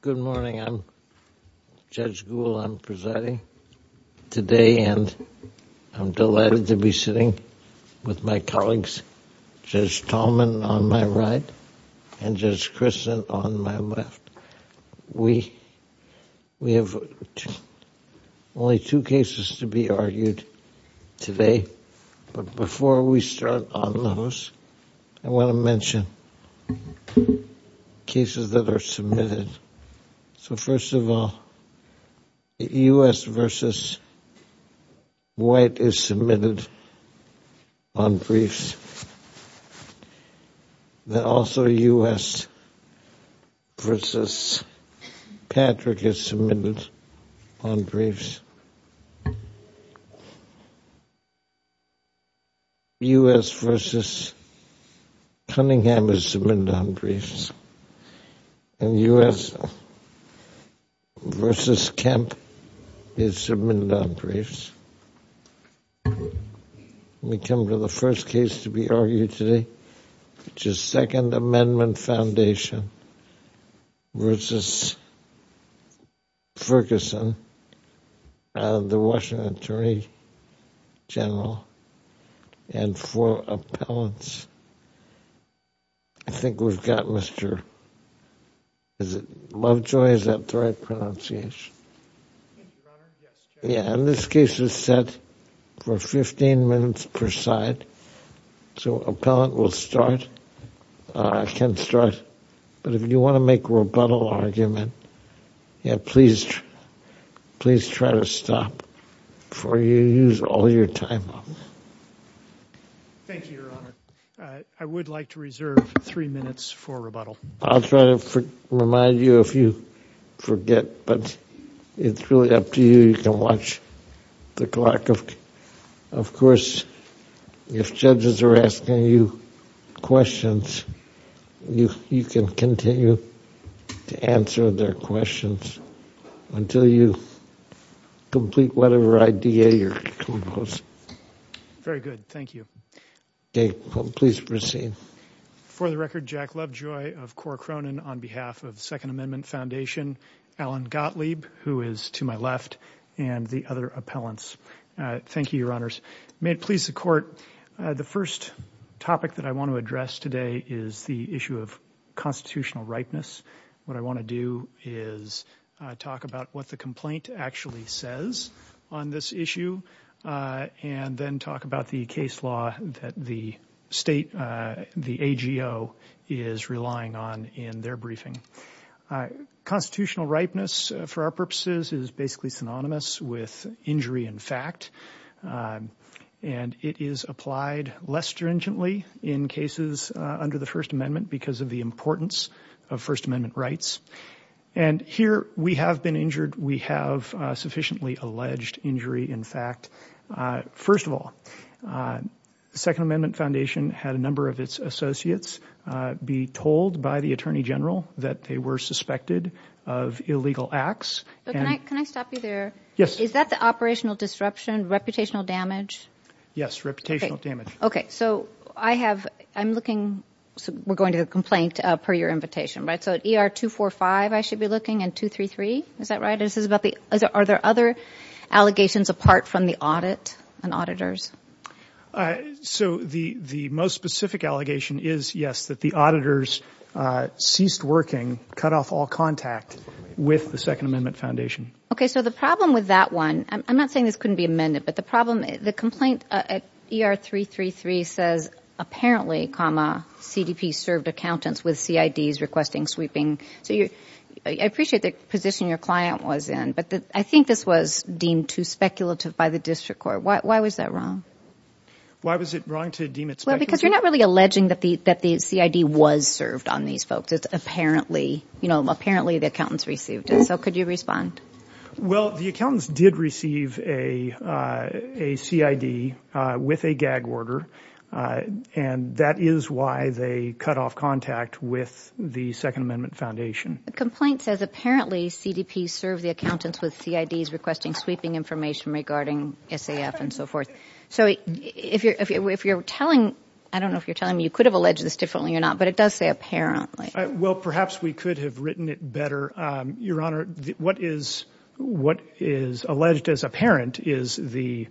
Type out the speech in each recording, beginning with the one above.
Good morning. I'm Judge Gould. I'm presiding today and I'm delighted to be sitting with my colleagues Judge Tallman on my right and Judge Christen on my left. We have only two cases to be argued today, but before we start on those, I so first of all, U.S. v. White is submitted on briefs. Then also U.S. v. Kemp is submitted on briefs. We come to the first case to be argued today, which is Second Amendment Foundation v. Ferguson, the Washington Attorney General, and for appellants, I think we've got Mr., is it Lovejoy, is that the right pronunciation? Yeah, and this case is set for 15 minutes per side, so appellant will start. I can start, but if you want to make a rebuttal argument, yeah, please, please try to stop before you use all your time up. Thank you, Your Honor. I would like to reserve three minutes for rebuttal. I'll try to remind you if you forget, but it's really up to you. You can watch the clock. Of course, if judges are asking you questions, you can continue to answer their questions until you complete whatever idea you're composed. Very good, thank you. Okay, please proceed. For the record, Jack Lovejoy of Cora Cronin on behalf of Second Amendment Foundation, Alan Gottlieb, who is to my left, and the other appellants. Thank you, Your Honors. May it please the Court, the first topic that I want to address today is the issue of constitutional ripeness. What I want to do is talk about what the complaint actually says on this issue, and then talk about the case law that the state, the AGO, is relying on in their briefing. Constitutional ripeness, for our purposes, is basically synonymous with injury in fact, and it is applied less stringently in cases under the First Amendment because of the importance of First Amendment rights. Here, we have been injured. We have sufficiently alleged injury in fact. First of all, Second Amendment Foundation had a number of its associates be told by the Attorney General that they were suspected of illegal acts. Can I stop you there? Yes. Is that the operational disruption, reputational damage? Yes, reputational damage. Okay, so I have, I'm looking, so we're going to the complaint per your invitation, right? So ER 245, I should be looking, and 233, is that right? Are there other allegations apart from the audit and auditors? So the most specific allegation is, yes, that the auditors ceased working, cut off all contact with the Second Amendment Foundation. Okay, so the problem with that one, I'm not saying this couldn't be amended, but the problem, the complaint at ER 333 says, apparently, comma, CDP served accountants with CIDs requesting sweeping. So you, I appreciate the position your client was in, but I think this was deemed too speculative by the district court. Why was that wrong? Why was it wrong to deem it speculative? Well, because you're not really that the CID was served on these folks. It's apparently, you know, apparently the accountants received it. So could you respond? Well, the accountants did receive a CID with a gag order, and that is why they cut off contact with the Second Amendment Foundation. The complaint says, apparently, CDP served the accountants with CIDs requesting sweeping information regarding SAF and so forth. So if you're telling, I don't know if you're telling me you could have alleged this differently or not, but it does say apparently. Well, perhaps we could have written it better. Your Honor, what is alleged as apparent is the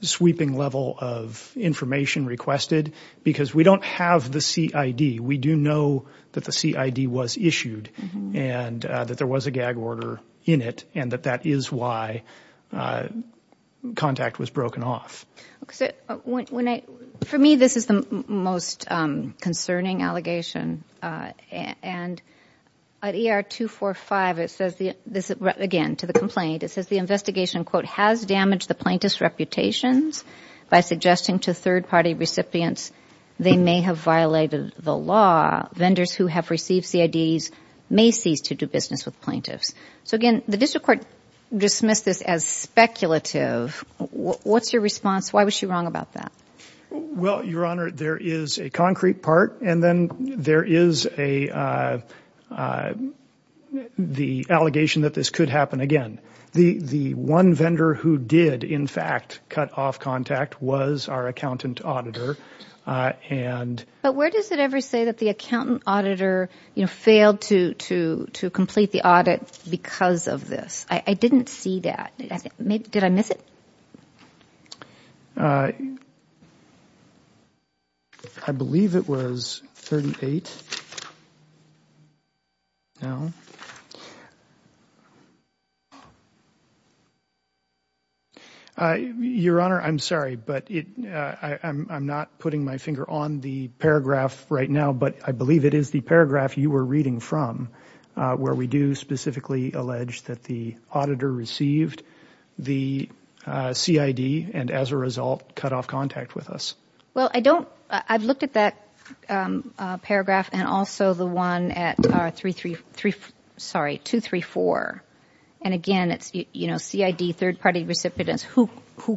sweeping level of information requested, because we don't have the CID. We do know that the CID was issued and that there was a gag order in it, and that that is why contact was broken off. For me, this is the most concerning allegation, and at ER 245, it says, again, to the complaint, it says the investigation, quote, has damaged the plaintiff's reputations by suggesting to third-party recipients they may have violated the law. Vendors who have received CIDs may cease to do business with plaintiffs. So again, the district court dismissed this as speculative. What's your response? Why was she wrong about that? Well, Your Honor, there is a concrete part, and then there is the allegation that this could happen again. The one vendor who did, in fact, cut off contact was our accountant auditor. But where does it ever say that the accountant auditor failed to complete the audit because of this? I didn't see that. Did I miss it? I believe it was 38. Your Honor, I'm sorry, but I'm not putting my finger on the paragraph right now, but I believe it is the paragraph you were reading from where we do specifically allege that the auditor received the CID and, as a result, cut off contact with us. Well, I've looked at that paragraph and also the one at 234, and again, it's CID, third-party recipients who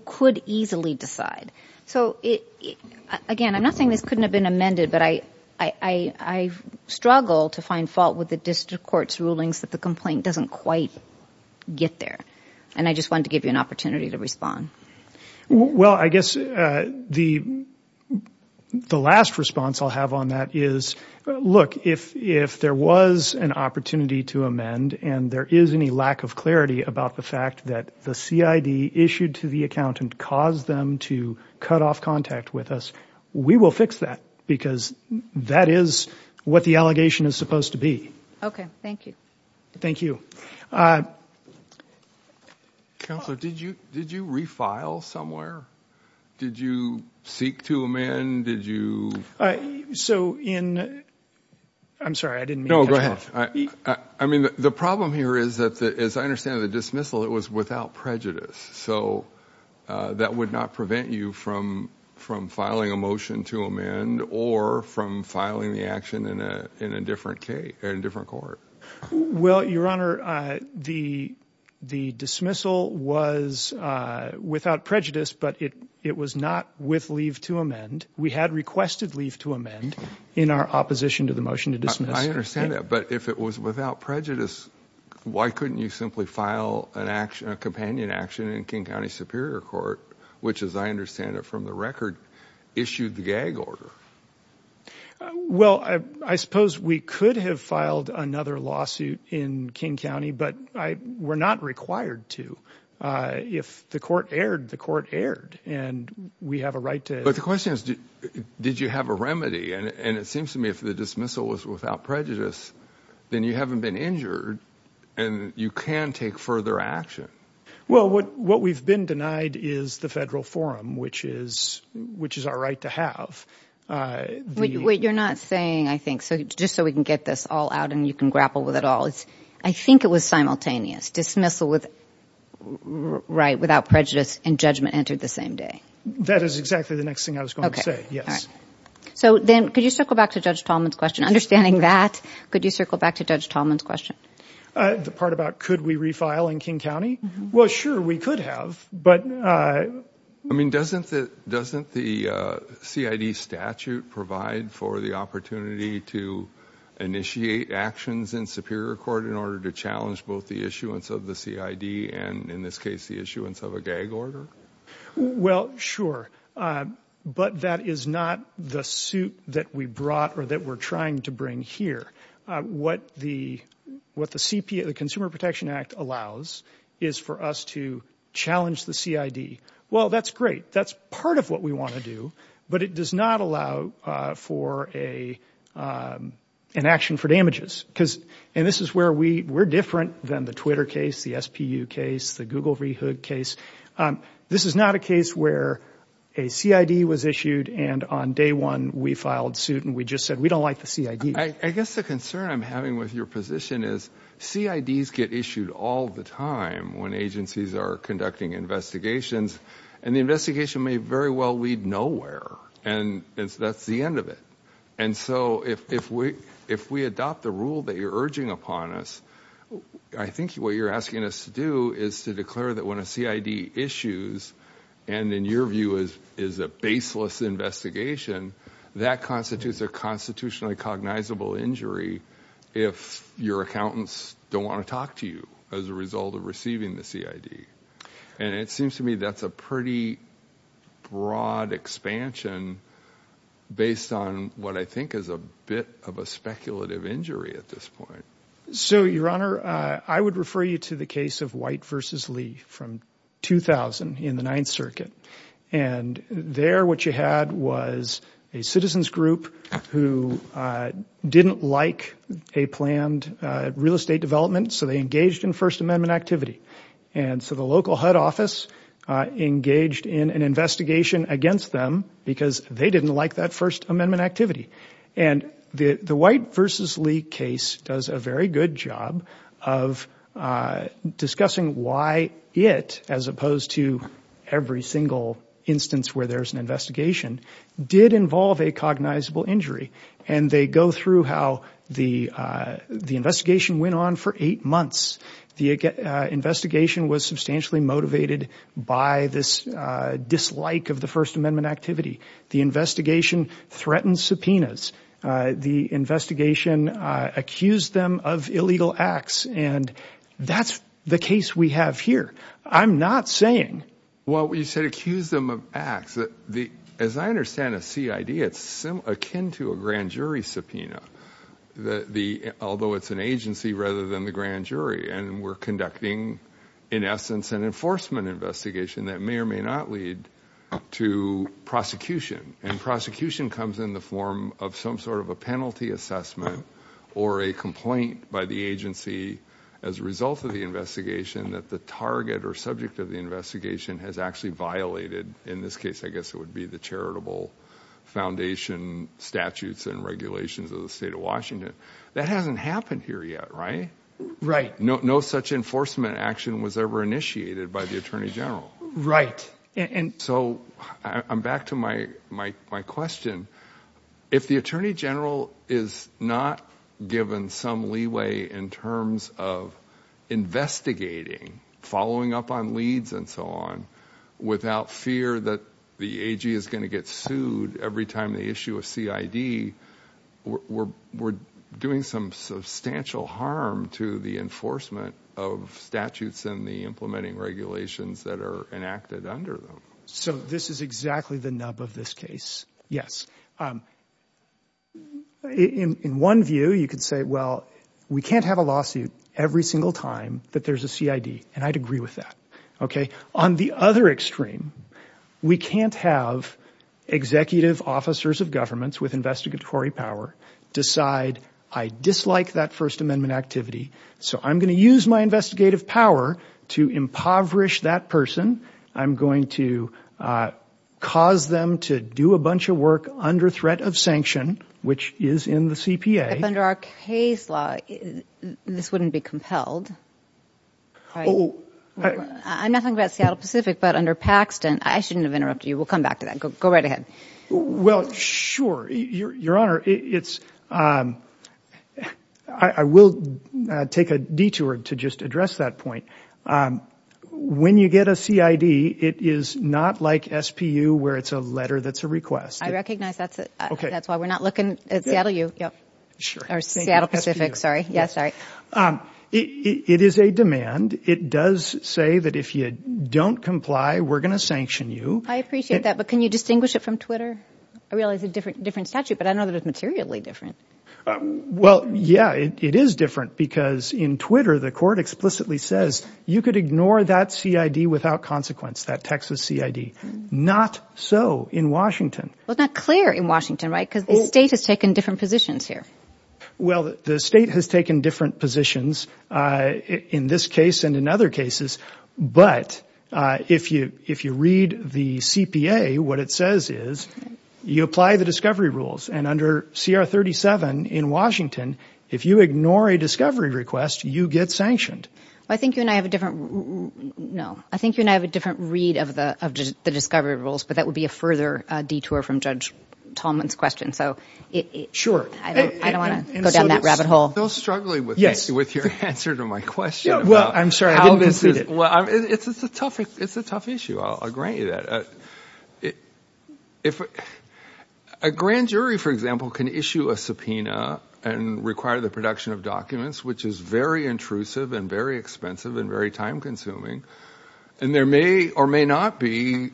could easily decide. So again, I'm not saying this couldn't have been amended, but I struggle to find fault with the district court's rulings that the complaint doesn't quite get there, and I just wanted to give you an opportunity to respond. Well, I guess the last response I'll have on that is, look, if there was an opportunity to amend and there is any lack of clarity about the fact that the CID issued to the accountant caused them to cut off contact with us, we will fix that because that is what the allegation is supposed to be. Okay, thank you. Thank you. Counselor, did you refile somewhere? Did you seek to amend? Did you... So in... I'm sorry, I didn't mean to... No, go ahead. I mean, the problem here is that, as I understand the dismissal, it was without prejudice. So that would not prevent you from filing a motion to amend or from filing the action in a different court. Well, Your Honor, the dismissal was without prejudice, but it was not with leave to amend. We had requested leave to amend in our opposition to the motion to dismiss. I understand that, but if it was without prejudice, why couldn't you simply file a companion action in King County Superior Court, which, as I understand it from the record, issued the gag order? Well, I suppose we could have filed another lawsuit in King County, but we're not required to. If the court erred, the court erred, and we have a right to... The question is, did you have a remedy? And it seems to me if the dismissal was without prejudice, then you haven't been injured, and you can take further action. Well, what we've been denied is the federal forum, which is our right to have. Wait, you're not saying, I think, so just so we can get this all out and you can grapple with it all, I think it was simultaneous, dismissal without prejudice and judgment entered the same day. That is exactly the next thing I was going to say, yes. So then could you circle back to Judge Tallman's question? Understanding that, could you circle back to Judge Tallman's question? The part about could we refile in King County? Well, sure, we could have, but... I mean, doesn't the CID statute provide for the opportunity to initiate actions in Superior Court in order to challenge both the issuance of the CID and, in this case, the issuance of a gag order? Well, sure, but that is not the suit that we brought or that we're trying to bring here. What the Consumer Protection Act allows is for us to challenge the CID. Well, that's great. That's part of what we want to do, but it does not allow for an action for damages. And this is where we're different than the Twitter case, the SPU case, the Google Rehood case. This is not a case where a CID was issued, and on day one, we filed suit, and we just said, we don't like the CID. I guess the concern I'm having with your position is CIDs get issued all the time when agencies are conducting investigations, and the investigation may very well lead nowhere, and that's the end of it. And so if we adopt the rule that you're urging upon us, I think what you're asking us to do is to declare that when a CID issues and, in your view, is a baseless investigation, that constitutes a constitutionally cognizable injury if your accountants don't want to talk to you as a result of receiving the CID. And it seems to me that's a pretty broad expansion based on what I think is a bit of a speculative injury at this point. So, Your Honor, I would refer you to the case of White v. Lee from 2000 in the Ninth Circuit. And there what you had was a citizen's group who didn't like a planned real estate development, so they engaged in First Amendment activity. And so the local HUD office engaged in an investigation against them because they didn't like that First Amendment activity. And the White v. Lee case does a very good job of discussing why it, as opposed to every single instance where there's an investigation, did involve a cognizable injury. And they go through how the investigation went on for eight months. The investigation was substantially motivated by this dislike of the First Amendment activity. The investigation threatened subpoenas. The investigation accused them of illegal acts. And that's the case we have here. I'm not saying... Well, you said accused them of acts. As I understand a CID, it's akin to a grand jury subpoena, although it's an agency rather than the grand jury. And we're conducting, in essence, an enforcement investigation that may or may not lead to prosecution. And prosecution comes in the form of some sort of a penalty assessment or a complaint by the agency as a result of the investigation that the target or subject of the investigation has actually violated. In this case, I guess it would be the charitable foundation statutes and regulations of the state of Washington. That hasn't happened here yet, right? Right. No such enforcement action was ever initiated by the Attorney General. Right. So I'm back to my question. If the Attorney General is not given some leeway in terms of investigating, following up on leads and so on, without fear that the AG is going to get sued every time they issue a CID, we're doing some substantial harm to the enforcement of statutes and the implementing regulations that are enacted under them. So this is exactly the nub of this case. Yes. In one view, you could say, well, we can't have a lawsuit every single time that there's a CID, and I'd agree with that. Okay. On the other extreme, we can't have executive officers of governments with investigatory power decide, I dislike that First Amendment activity. So I'm going to use my investigative power to impoverish that person. I'm going to cause them to do a bunch of work under threat of sanction, which is in the CPA. Under our case law, this wouldn't be compelled. I'm not talking about Seattle Pacific, but under Paxton, I shouldn't have interrupted you. We'll come back to that. Go right ahead. Well, sure. Your Honor, I will take a detour to just address that point. When you get a CID, it is not like SPU where it's a letter that's a request. I recognize that. That's why we're not looking at Seattle Pacific. It is a demand. It does say that if you don't comply, we're going to sanction you. I appreciate that, but can you distinguish it from Twitter? I realize it's a different statute, but I know that it's materially different. Well, yeah, it is different because in Twitter, the court explicitly says you could ignore that CID without consequence, that Texas CID. Not so in Washington. Well, it's not clear in Washington, right? Because the state has taken different positions here. Well, the state has taken different positions in this case and in other cases, but if you read the CPA, what it says is you apply the discovery rules. Under CR 37 in Washington, if you ignore a discovery request, you get sanctioned. I think you and I have a different read of the discovery rules, but that would be a further detour from Judge Tallman's question. Sure. I don't want to go down that rabbit hole. No struggling with your answer to my question. Well, I'm sorry. It's a tough issue. I'll grant you that. A grand jury, for example, can issue a subpoena and require the production of documents, which is very intrusive and very expensive and very time consuming. There may or may not be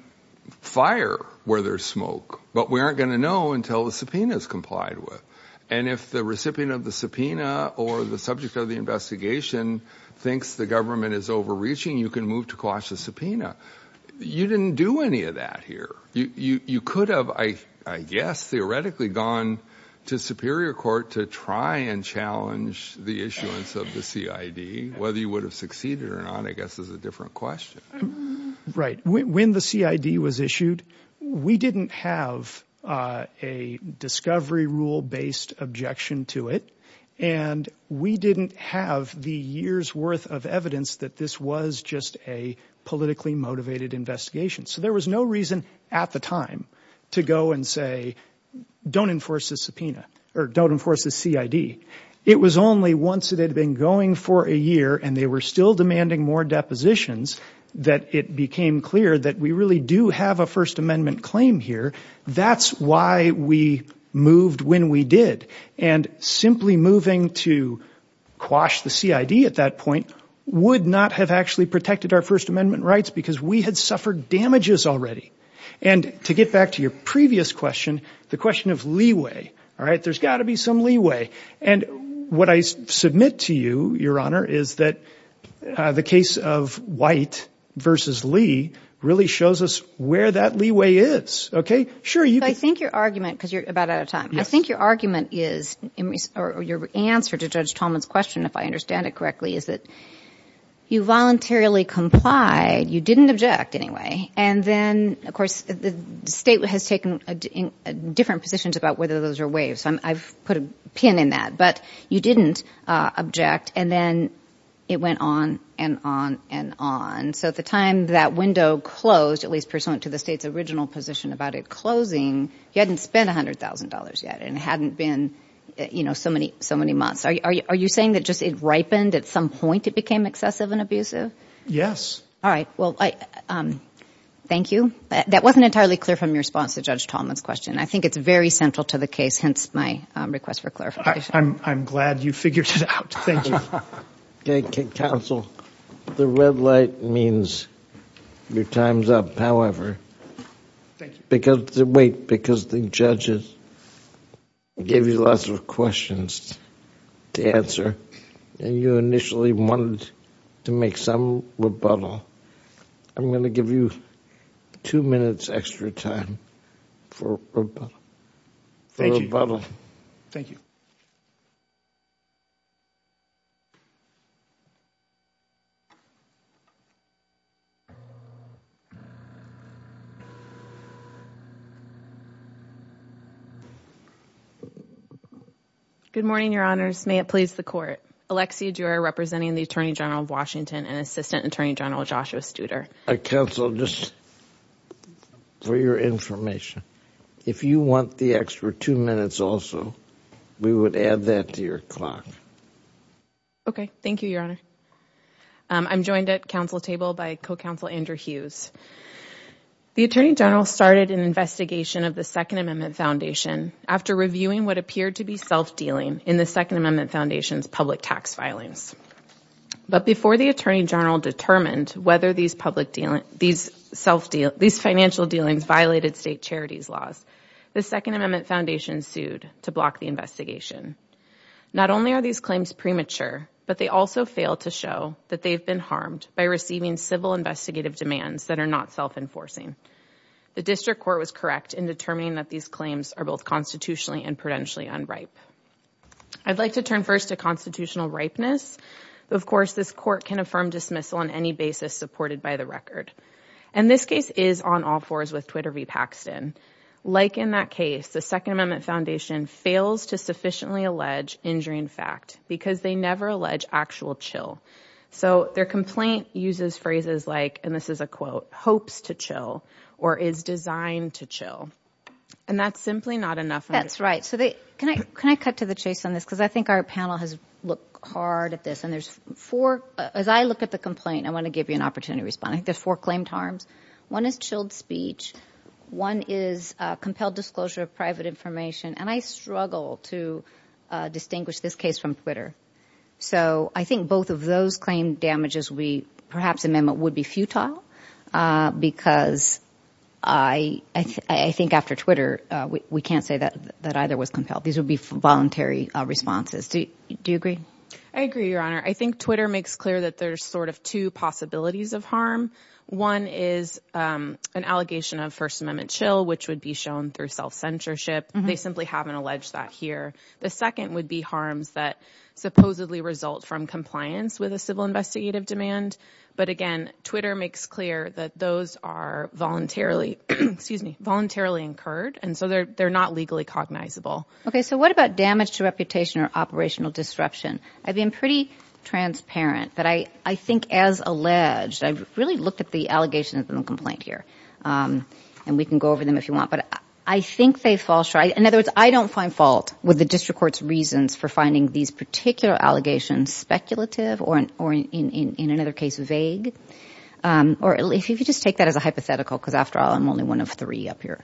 fire where there's smoke, but we aren't going to know until the subpoena is complied with. And if the recipient of the subpoena or the subject of the investigation thinks the government is overreaching, you can move to quash the subpoena. You didn't do any of that here. You could have, I guess, theoretically gone to superior court to try and challenge the issuance of the CID, whether you would have succeeded or not, I guess is a question. Right. When the CID was issued, we didn't have a discovery rule based objection to it. And we didn't have the year's worth of evidence that this was just a politically motivated investigation. So there was no reason at the time to go and say, don't enforce the subpoena or don't enforce the CID. It was only once it had been going for a year and they were still demanding more depositions that it became clear that we really do have a First Amendment claim here. That's why we moved when we did. And simply moving to quash the CID at that point would not have actually protected our First Amendment rights because we had suffered damages already. And to get back to your previous question, the question of leeway. All right. There's got to be leeway. And what I submit to you, Your Honor, is that the case of White versus Lee really shows us where that leeway is. OK, sure. I think your argument, because you're about out of time, I think your argument is or your answer to Judge Tolman's question, if I understand it correctly, is that you voluntarily complied. You didn't object anyway. And then, of course, the state has taken different positions about whether those are waives. I've put a pin in that. But you didn't object. And then it went on and on and on. So at the time that window closed, at least pursuant to the state's original position about it closing, you hadn't spent one hundred thousand dollars yet and hadn't been, you know, so many so many months. Are you saying that just it ripened at some point? It became excessive and abusive? Yes. All right. Well, thank you. That wasn't entirely clear from your response to Judge Tolman's question. I think it's very central to the case, hence my request for clarification. I'm glad you figured it out. Thank you. Counsel, the red light means your time's up. However, wait, because the judges gave you lots of questions to answer and you initially wanted to make some rebuttal. I'm going to give you two minutes extra time. For thank you. Good morning, Your Honors. May it please the court. Alexia Durer, representing the attorney general of Washington and Assistant Attorney General Joshua Studer. Counsel, just for your information, if you want the extra two minutes also, we would add that to your clock. Okay. Thank you, Your Honor. I'm joined at council table by co-counsel Andrew Hughes. The attorney general started an investigation of the Second Amendment Foundation after reviewing what appeared to be self-dealing in the Second Amendment Foundation's public tax filings. But before the attorney general determined whether these financial dealings violated state charities laws, the Second Amendment Foundation sued to block the investigation. Not only are these claims premature, but they also fail to show that they've been harmed by receiving civil investigative demands that are not self-enforcing. The district court was correct in determining that these claims are both constitutionally and prudentially unripe. I'd like to turn first to constitutional ripeness. Of course, this court can affirm dismissal on any basis supported by the record. And this case is on all fours with Twitter v. Paxton. Like in that case, the Second Amendment Foundation fails to sufficiently allege injuring fact because they never allege actual chill. So their complaint uses phrases like, and this is a quote, hopes to chill or is designed to chill. And that's simply not enough. That's right. Can I cut to the chase on this? Because I think our panel has looked hard at this and there's four, as I look at the complaint, I want to give you an opportunity to respond. There's four claimed harms. One is chilled speech. One is a compelled disclosure of private information. And I struggle to distinguish this case from Twitter. So I think both of those claim perhaps amendment would be futile because I think after Twitter, we can't say that either was compelled. These would be voluntary responses. Do you agree? I agree, Your Honor. I think Twitter makes clear that there's sort of two possibilities of harm. One is an allegation of First Amendment chill, which would be shown through self-censorship. They simply haven't alleged that here. The second would be harms that supposedly result from compliance with a civil investigative demand. But again, Twitter makes clear that those are voluntarily, excuse me, voluntarily incurred. And so they're not legally cognizable. Okay. So what about damage to reputation or operational disruption? I've been pretty transparent that I think as alleged, I've really looked at the allegations in the complaint here and we can go over them if you want, but I think they fall short. In other words, I don't find fault with the district court's reasons for finding these particular allegations speculative or in another case vague. Or if you just take that as a hypothetical, because after all, I'm only one of three up here.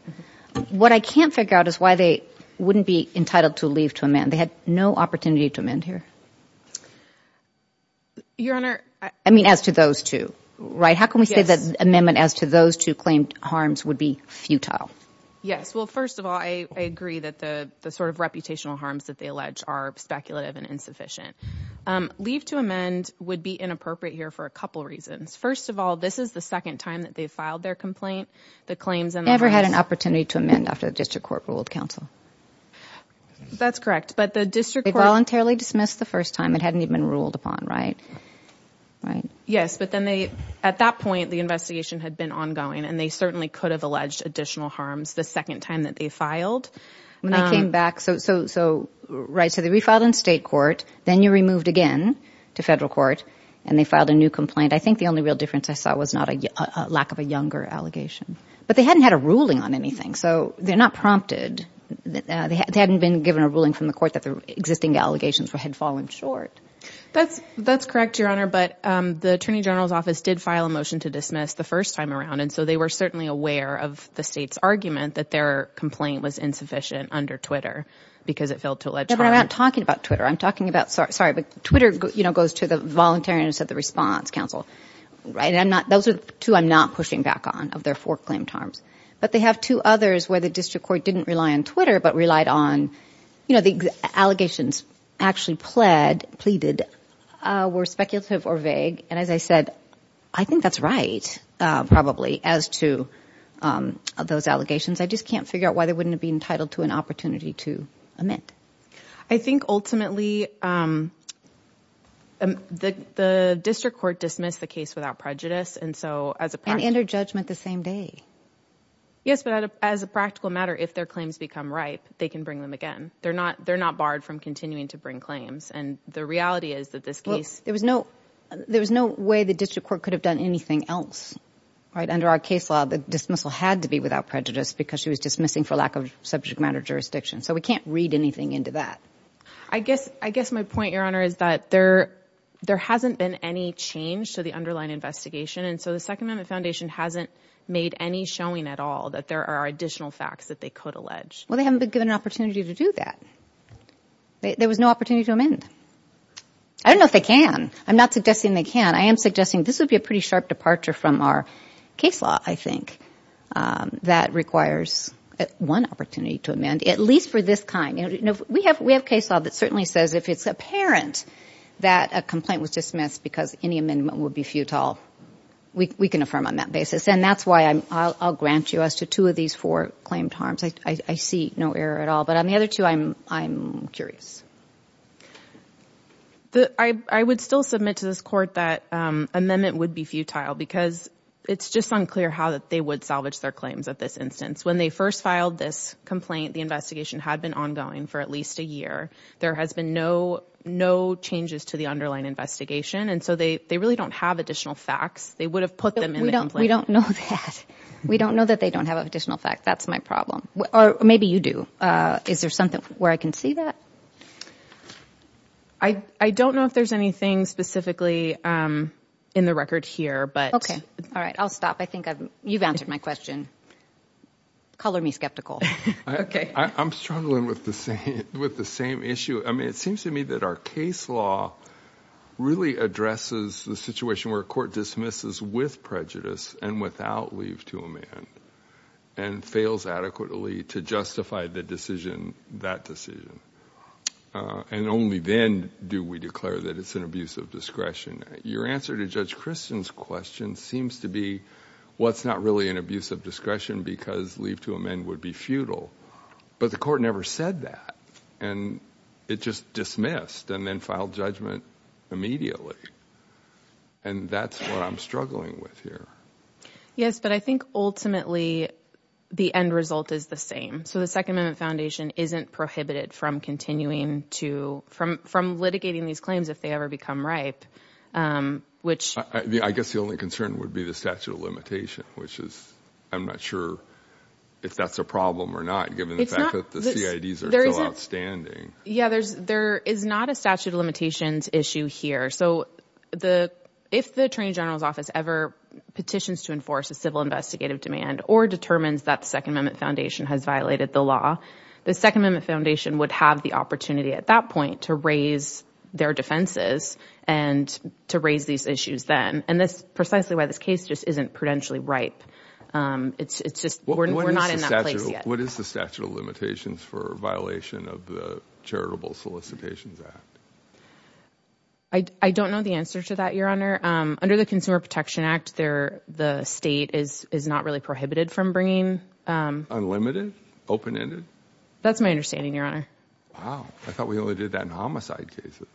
What I can't figure out is why they wouldn't be entitled to leave to amend. They had no opportunity to amend here. Your Honor. I mean, as to those two, right? How can we say that amendment as to those two claimed harms would be futile? Yes. Well, first of all, I agree that the sort of reputational harms that they allege are speculative and insufficient. Leave to amend would be inappropriate here for a couple of reasons. First of all, this is the second time that they filed their complaint. They never had an opportunity to amend after the district court ruled counsel. That's correct. But the district voluntarily dismissed the first time it hadn't even ruled upon. Right. Right. Yes. But then they, at that point, the investigation had been ongoing and they certainly could have alleged additional harms the second time that they filed. When they came back. So, right. So they refiled in state court, then you removed again to federal court and they filed a new complaint. I think the only real difference I saw was not a lack of a younger allegation, but they hadn't had a ruling on anything. So they're not prompted. They hadn't been given a ruling from the court that the existing allegations had fallen short. That's correct, Your Honor. But the attorney general's office did file a motion to dismiss the first time around. And so they were certainly aware of the state's argument that their complaint was insufficient under Twitter because it failed to allege harm. But I'm not talking about Twitter. I'm talking about, sorry, but Twitter, you know, goes to the voluntarians at the response council. Right. And I'm not, those are two I'm not pushing back on of their four claimed harms, but they have two others where the district court didn't rely on Twitter, but relied on, you know, the allegations actually pled, pleaded were speculative or vague. And as I said, I think that's right. Probably as to those allegations, I just can't figure out why they wouldn't have been entitled to an opportunity to admit. I think ultimately the district court dismissed the case without prejudice. And so as a, and enter judgment the same day. Yes, but as a practical matter, if their claims become ripe, they can bring them again. They're not, they're not barred from continuing to bring claims. And the reality is that this case, there was no, there was no way the district court could have done anything else, right? Under our case law, the dismissal had to be without prejudice because she was dismissing for lack of subject matter jurisdiction. So we can't read anything into that. I guess, I guess my point, Your Honor, is that there, there hasn't been any change to the underlying investigation. And so the second amendment foundation hasn't made any showing at all that there are additional facts that they could allege. Well, they haven't been given an opportunity to do that. There was no opportunity to amend. I don't know if they can. I'm not suggesting they can. I am suggesting this would be a pretty sharp departure from our case law, I think, that requires one opportunity to amend, at least for this kind. You know, we have, we have case law that certainly says if it's apparent that a complaint was dismissed because any amendment would be futile, we can affirm on that basis. And that's why I'm, I'll grant you as to two of these four harms. I see no error at all, but on the other two, I'm, I'm curious. I would still submit to this court that amendment would be futile because it's just unclear how that they would salvage their claims at this instance. When they first filed this complaint, the investigation had been ongoing for at least a year. There has been no, no changes to the underlying investigation. And so they, they really don't have additional facts. They would have put them in the complaint. We don't know that. We don't know that they don't have additional facts. That's my problem. Or maybe you do. Is there something where I can see that? I, I don't know if there's anything specifically in the record here, but... Okay. All right. I'll stop. I think I've, you've answered my question. Color me skeptical. Okay. I'm struggling with the same, with the same issue. I mean, it seems to me that our case law really addresses the situation where a court dismisses with prejudice and without leave to amend, and fails adequately to justify the decision, that decision. And only then do we declare that it's an abuse of discretion. Your answer to Judge Christian's question seems to be what's not really an abuse of discretion because leave to amend would be futile. But the court never said that. And it just dismissed and then filed judgment immediately. And that's what I'm struggling with here. Yes. But I think ultimately the end result is the same. So the Second Amendment Foundation isn't prohibited from continuing to, from, from litigating these claims if they ever become ripe, which... I guess the only concern would be the statute of limitation, which is, I'm not sure if that's a problem or not, given the fact that the CIDs are still outstanding. Yeah. There's, there is not a statute of limitations issue here. So the, if the Attorney General's office ever petitions to enforce a civil investigative demand or determines that the Second Amendment Foundation has violated the law, the Second Amendment Foundation would have the opportunity at that point to raise their defenses and to raise these issues then. And that's precisely why this case just isn't prudentially ripe. It's, it's just, we're not in that place yet. What is the statute of limitations for violation of the Charitable Solicitations Act? I, I don't know the answer to that, Your Honor. Under the Consumer Protection Act, there, the state is, is not really prohibited from bringing... Unlimited? Open-ended? That's my understanding, Your Honor. Wow. I thought we only did that in homicide cases.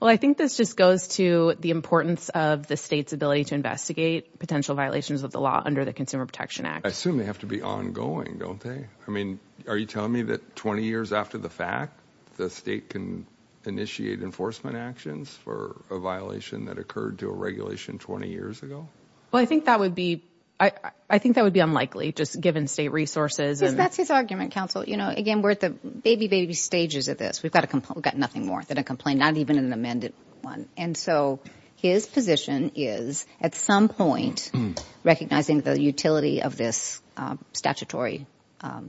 Well, I think this just goes to the importance of the state's ability to investigate potential violations of the law under the Consumer Protection Act. I assume they have to be ongoing, don't they? I mean, are you telling me that 20 years after the fact, the state can initiate enforcement actions for a violation that occurred to a regulation 20 years ago? Well, I think that would be, I, I think that would be unlikely just given state resources and... That's his argument, counsel. You know, again, we're at the baby, baby stages of this. We've got a complaint, we've got nothing more than a complaint, not even an amended one. And so his position is, at some point, recognizing the utility of this statutory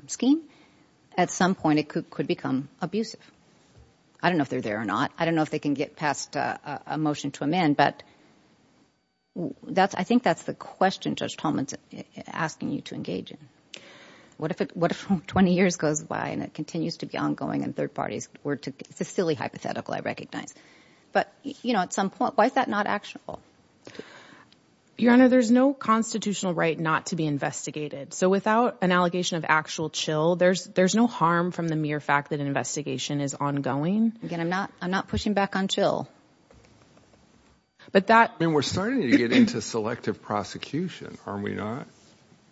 scheme, at some point it could become abusive. I don't know if they're there or not. I don't know if they can get past a motion to amend, but that's, I think that's the question Judge Tolman's asking you to engage in. What if it, what if 20 years goes by and it continues to be ongoing and third parties were to... It's a silly hypothetical, I recognize. But you know, at some point, why is that not actionable? Your Honor, there's no constitutional right not to be investigated. So without an allegation of actual chill, there's, there's no harm from the mere fact that an investigation is ongoing. Again, I'm not, I'm not pushing back on chill. But that... I mean, we're starting to get into selective prosecution, are we not?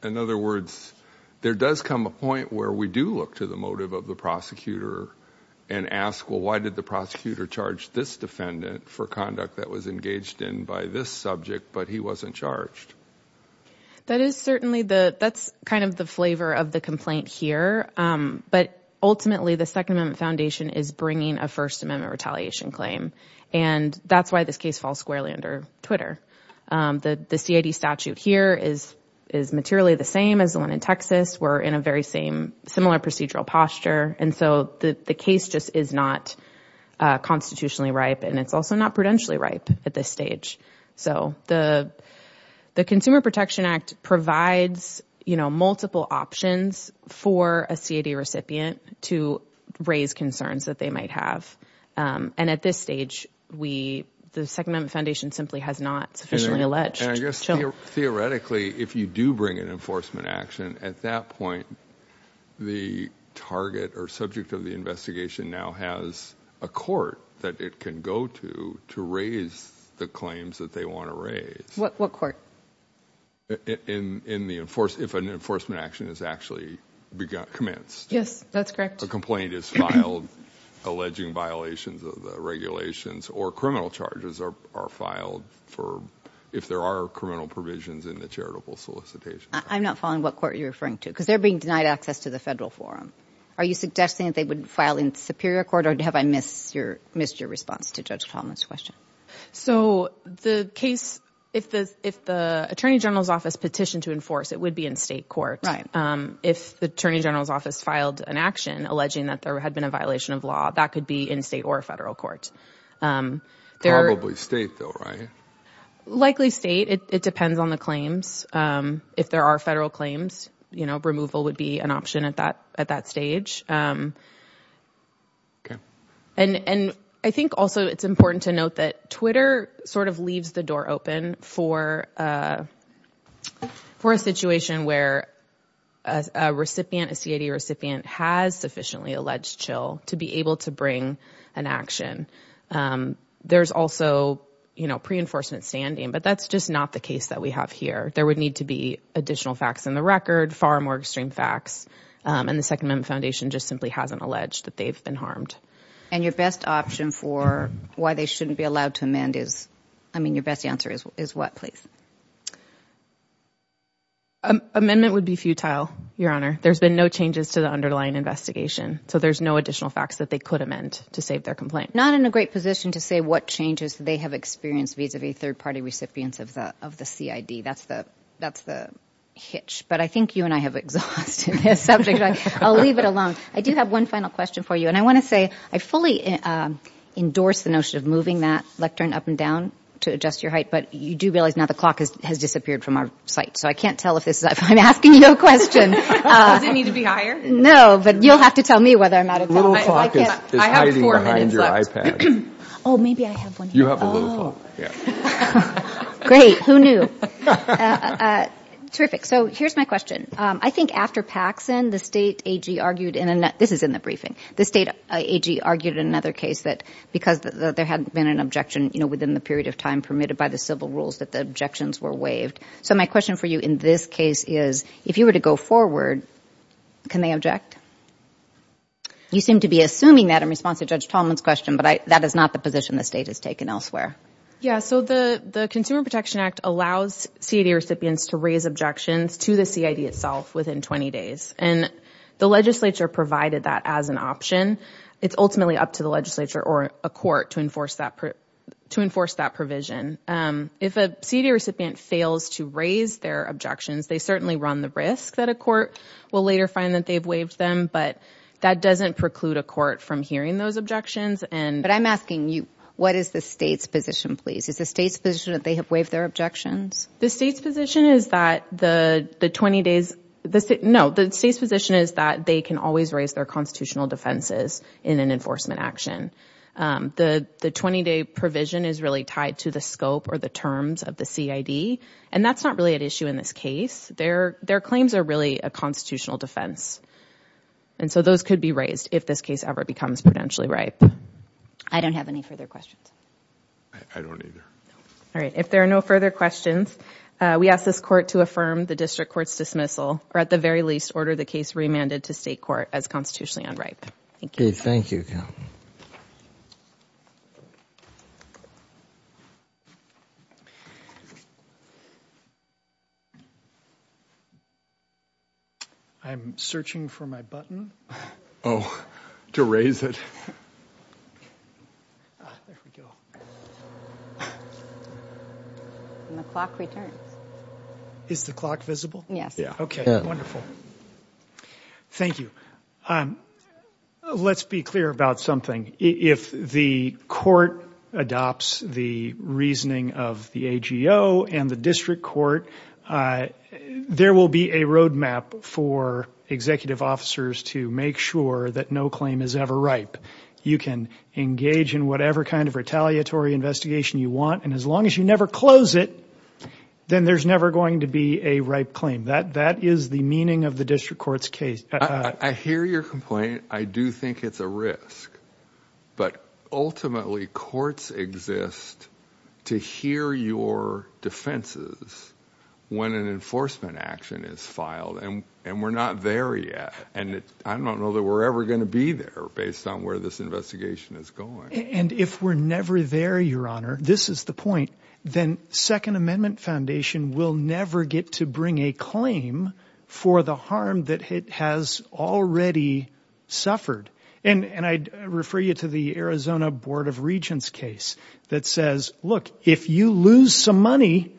In other words, there does come a point where we do look to the motive of the prosecutor and ask, well, why did the prosecutor charge this defendant for conduct that was engaged in by this subject, but he wasn't charged? That is certainly the, that's kind of the flavor of the complaint here. But ultimately, the Second Amendment Foundation is bringing a First Amendment retaliation claim. And that's why this case falls squarely under Twitter. The CID statute here is, is materially the same as the one in Texas. We're in a very same, similar procedural posture. And so the case just is not constitutionally ripe. And it's also not prudentially ripe at this stage. So the, the Consumer Protection Act provides, you know, multiple options for a CID recipient to raise concerns that they might have. And at this stage, we, the Second Amendment Foundation simply has not sufficiently alleged. And I guess theoretically, if you do bring an enforcement action, at that point, the target or subject of the investigation now has a court that it can go to, to raise the claims that they want to raise. What, what court? In, in the enforce, if an enforcement action is actually commenced. Yes, that's correct. A complaint is filed, alleging violations of the regulations or criminal charges are, are filed for, if there are criminal provisions in the charitable solicitation. I'm not following what court you're referring to, because they're being denied access to the federal forum. Are you suggesting that they would file in Superior Court or have I missed your, missed your response to Judge Tomlin's question? So the case, if the, if the Attorney General's office petitioned to enforce, it would be in state court. Right. If the Attorney General's office filed an action alleging that there had been a violation of law, that could be in state or federal court. Probably state though, right? Likely state. It depends on the claims. If there are federal claims, you know, removal would be an option at that, at that stage. Okay. And, and I think also it's important to note that Twitter sort of leaves the door open for, for a situation where a recipient, a CID recipient has sufficiently alleged to be able to bring an action. There's also, you know, pre-enforcement standing, but that's just not the case that we have here. There would need to be additional facts in the record, far more extreme facts. And the Second Amendment Foundation just simply hasn't alleged that they've been harmed. And your best option for why they shouldn't be allowed to amend is, I mean, your best answer is, is what, please? Amendment would be futile, Your Honor. There's been no changes to the underlying investigation. So there's no additional facts that they could amend to save their complaint. Not in a great position to say what changes they have experienced vis-a-vis third-party recipients of the, of the CID. That's the, that's the hitch, but I think you and I have exhausted this subject. I'll leave it alone. I do have one final question for you. And I want to say, I fully endorse the notion of moving that lectern up and down to adjust your height, but you do realize now the clock has, has disappeared from our site. So I can't tell if this is, if I'm asking you a question. Does it need to be higher? No, but you'll have to tell me whether or not it's... The little clock is hiding behind your iPad. Oh, maybe I have one here. You have a little clock, yeah. Great. Who knew? Terrific. So here's my question. I think after Paxson, the state AG argued in a, this is in the briefing, the state AG argued in another case that because there hadn't been an objection, you know, within the period of time permitted by the civil rules that the objections were waived. So my question for you in this case is, if you were to go forward, can they object? You seem to be assuming that in response to Judge Tallman's question, but I, that is not the position the state has taken elsewhere. Yeah. So the, the Consumer Protection Act allows CID recipients to raise objections to the CID itself within 20 days. And the legislature provided that as an option. It's ultimately up to the legislature or a court to enforce that, to enforce that provision. If a CID recipient fails to raise their objections, they certainly run the risk that a court will later find that they've waived them, but that doesn't preclude a court from hearing those objections. But I'm asking you, what is the state's position, please? Is the state's position that they have waived their objections? The state's position is that the 20 days, no, the state's position is that they can always raise their constitutional defenses in an enforcement action. The, the 20 day provision is really tied to the scope or the terms of the CID. And that's not really an issue in this case. Their, their claims are really a constitutional defense. And so those could be raised if this case ever becomes potentially ripe. I don't have any further questions. I don't either. All right. If there are no further questions, we ask this court to affirm the district court's dismissal or at the very least order the case remanded to state court as constitutionally unripe. Thank you. Thank you. I'm searching for my button. Oh, to raise it. Ah, there we go. And the clock returns. Is the clock visible? Yes. Okay. Wonderful. Thank you. Let's be clear about something. If the court adopts the reasoning of the AGO and the district court, there will be a roadmap for executive officers to make sure that no claim is ever ripe. You can engage in whatever kind of retaliatory investigation you want. And as long as you never close it, then there's never going to be a ripe claim. That, that is the meaning of the district court's case. I hear your complaint. I do think it's a risk, but ultimately courts exist to hear your defenses when an enforcement action is filed. And, and we're not there yet. And I don't know that we're ever going to be there based on where this investigation is going. And if we're never there, your honor, this is the point. Then second amendment foundation will never get to bring a claim for the harm that it has already suffered. And, and I'd refer you to the Arizona board of regents case that says, look, if you lose some money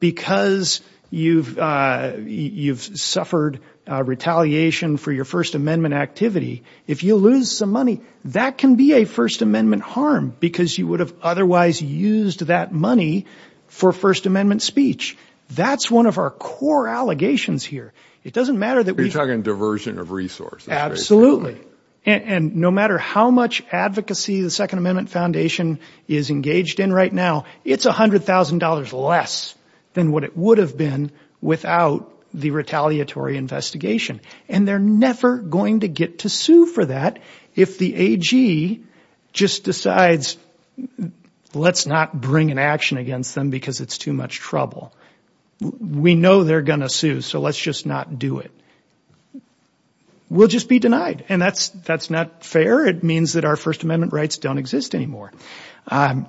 because you've, uh, you've suffered a retaliation for your first amendment activity, if you lose some money, that can be a first amendment harm because you would have otherwise used that money for first amendment speech. That's one of our core allegations here. It doesn't matter that we're talking diversion of resources. Absolutely. And no matter how much advocacy, the second amendment foundation is engaged in right now, it's a hundred thousand dollars less than what it would have been without the retaliatory investigation. And they're going to sue. So let's just not do it. We'll just be denied. And that's, that's not fair. It means that our first amendment rights don't exist anymore. Um,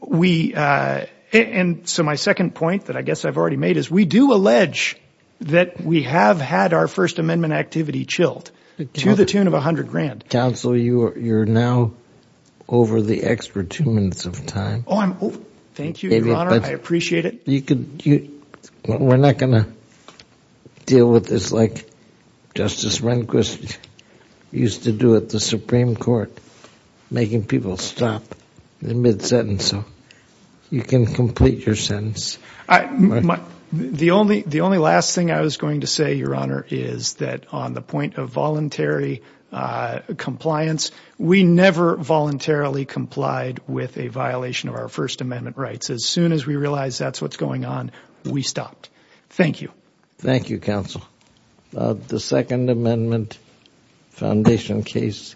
we, uh, and so my second point that I guess I've already made is we do allege that we have had our first amendment activity chilled to the tune of a hundred grand council. You are, you're now over the extra two minutes of time. Oh, I'm over. Thank you, Your Honor. I appreciate it. You could, we're not going to deal with this. Like Justice Rehnquist used to do at the Supreme court, making people stop the mid sentence. So you can complete your sentence. The only, the only last thing I was going to say, Your Honor, is that on the point of voluntary, uh, compliance, we never voluntarily complied with a violation of our first amendment rights. As soon as we realized that's what's going on, we stopped. Thank you. Thank you, counsel. The second amendment foundation case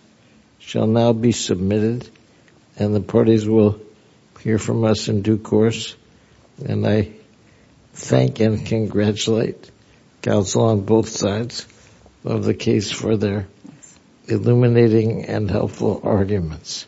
shall now be submitted and the parties will hear from us in due course. And I thank and congratulate counsel on both sides of the case for their illuminating and helpful arguments.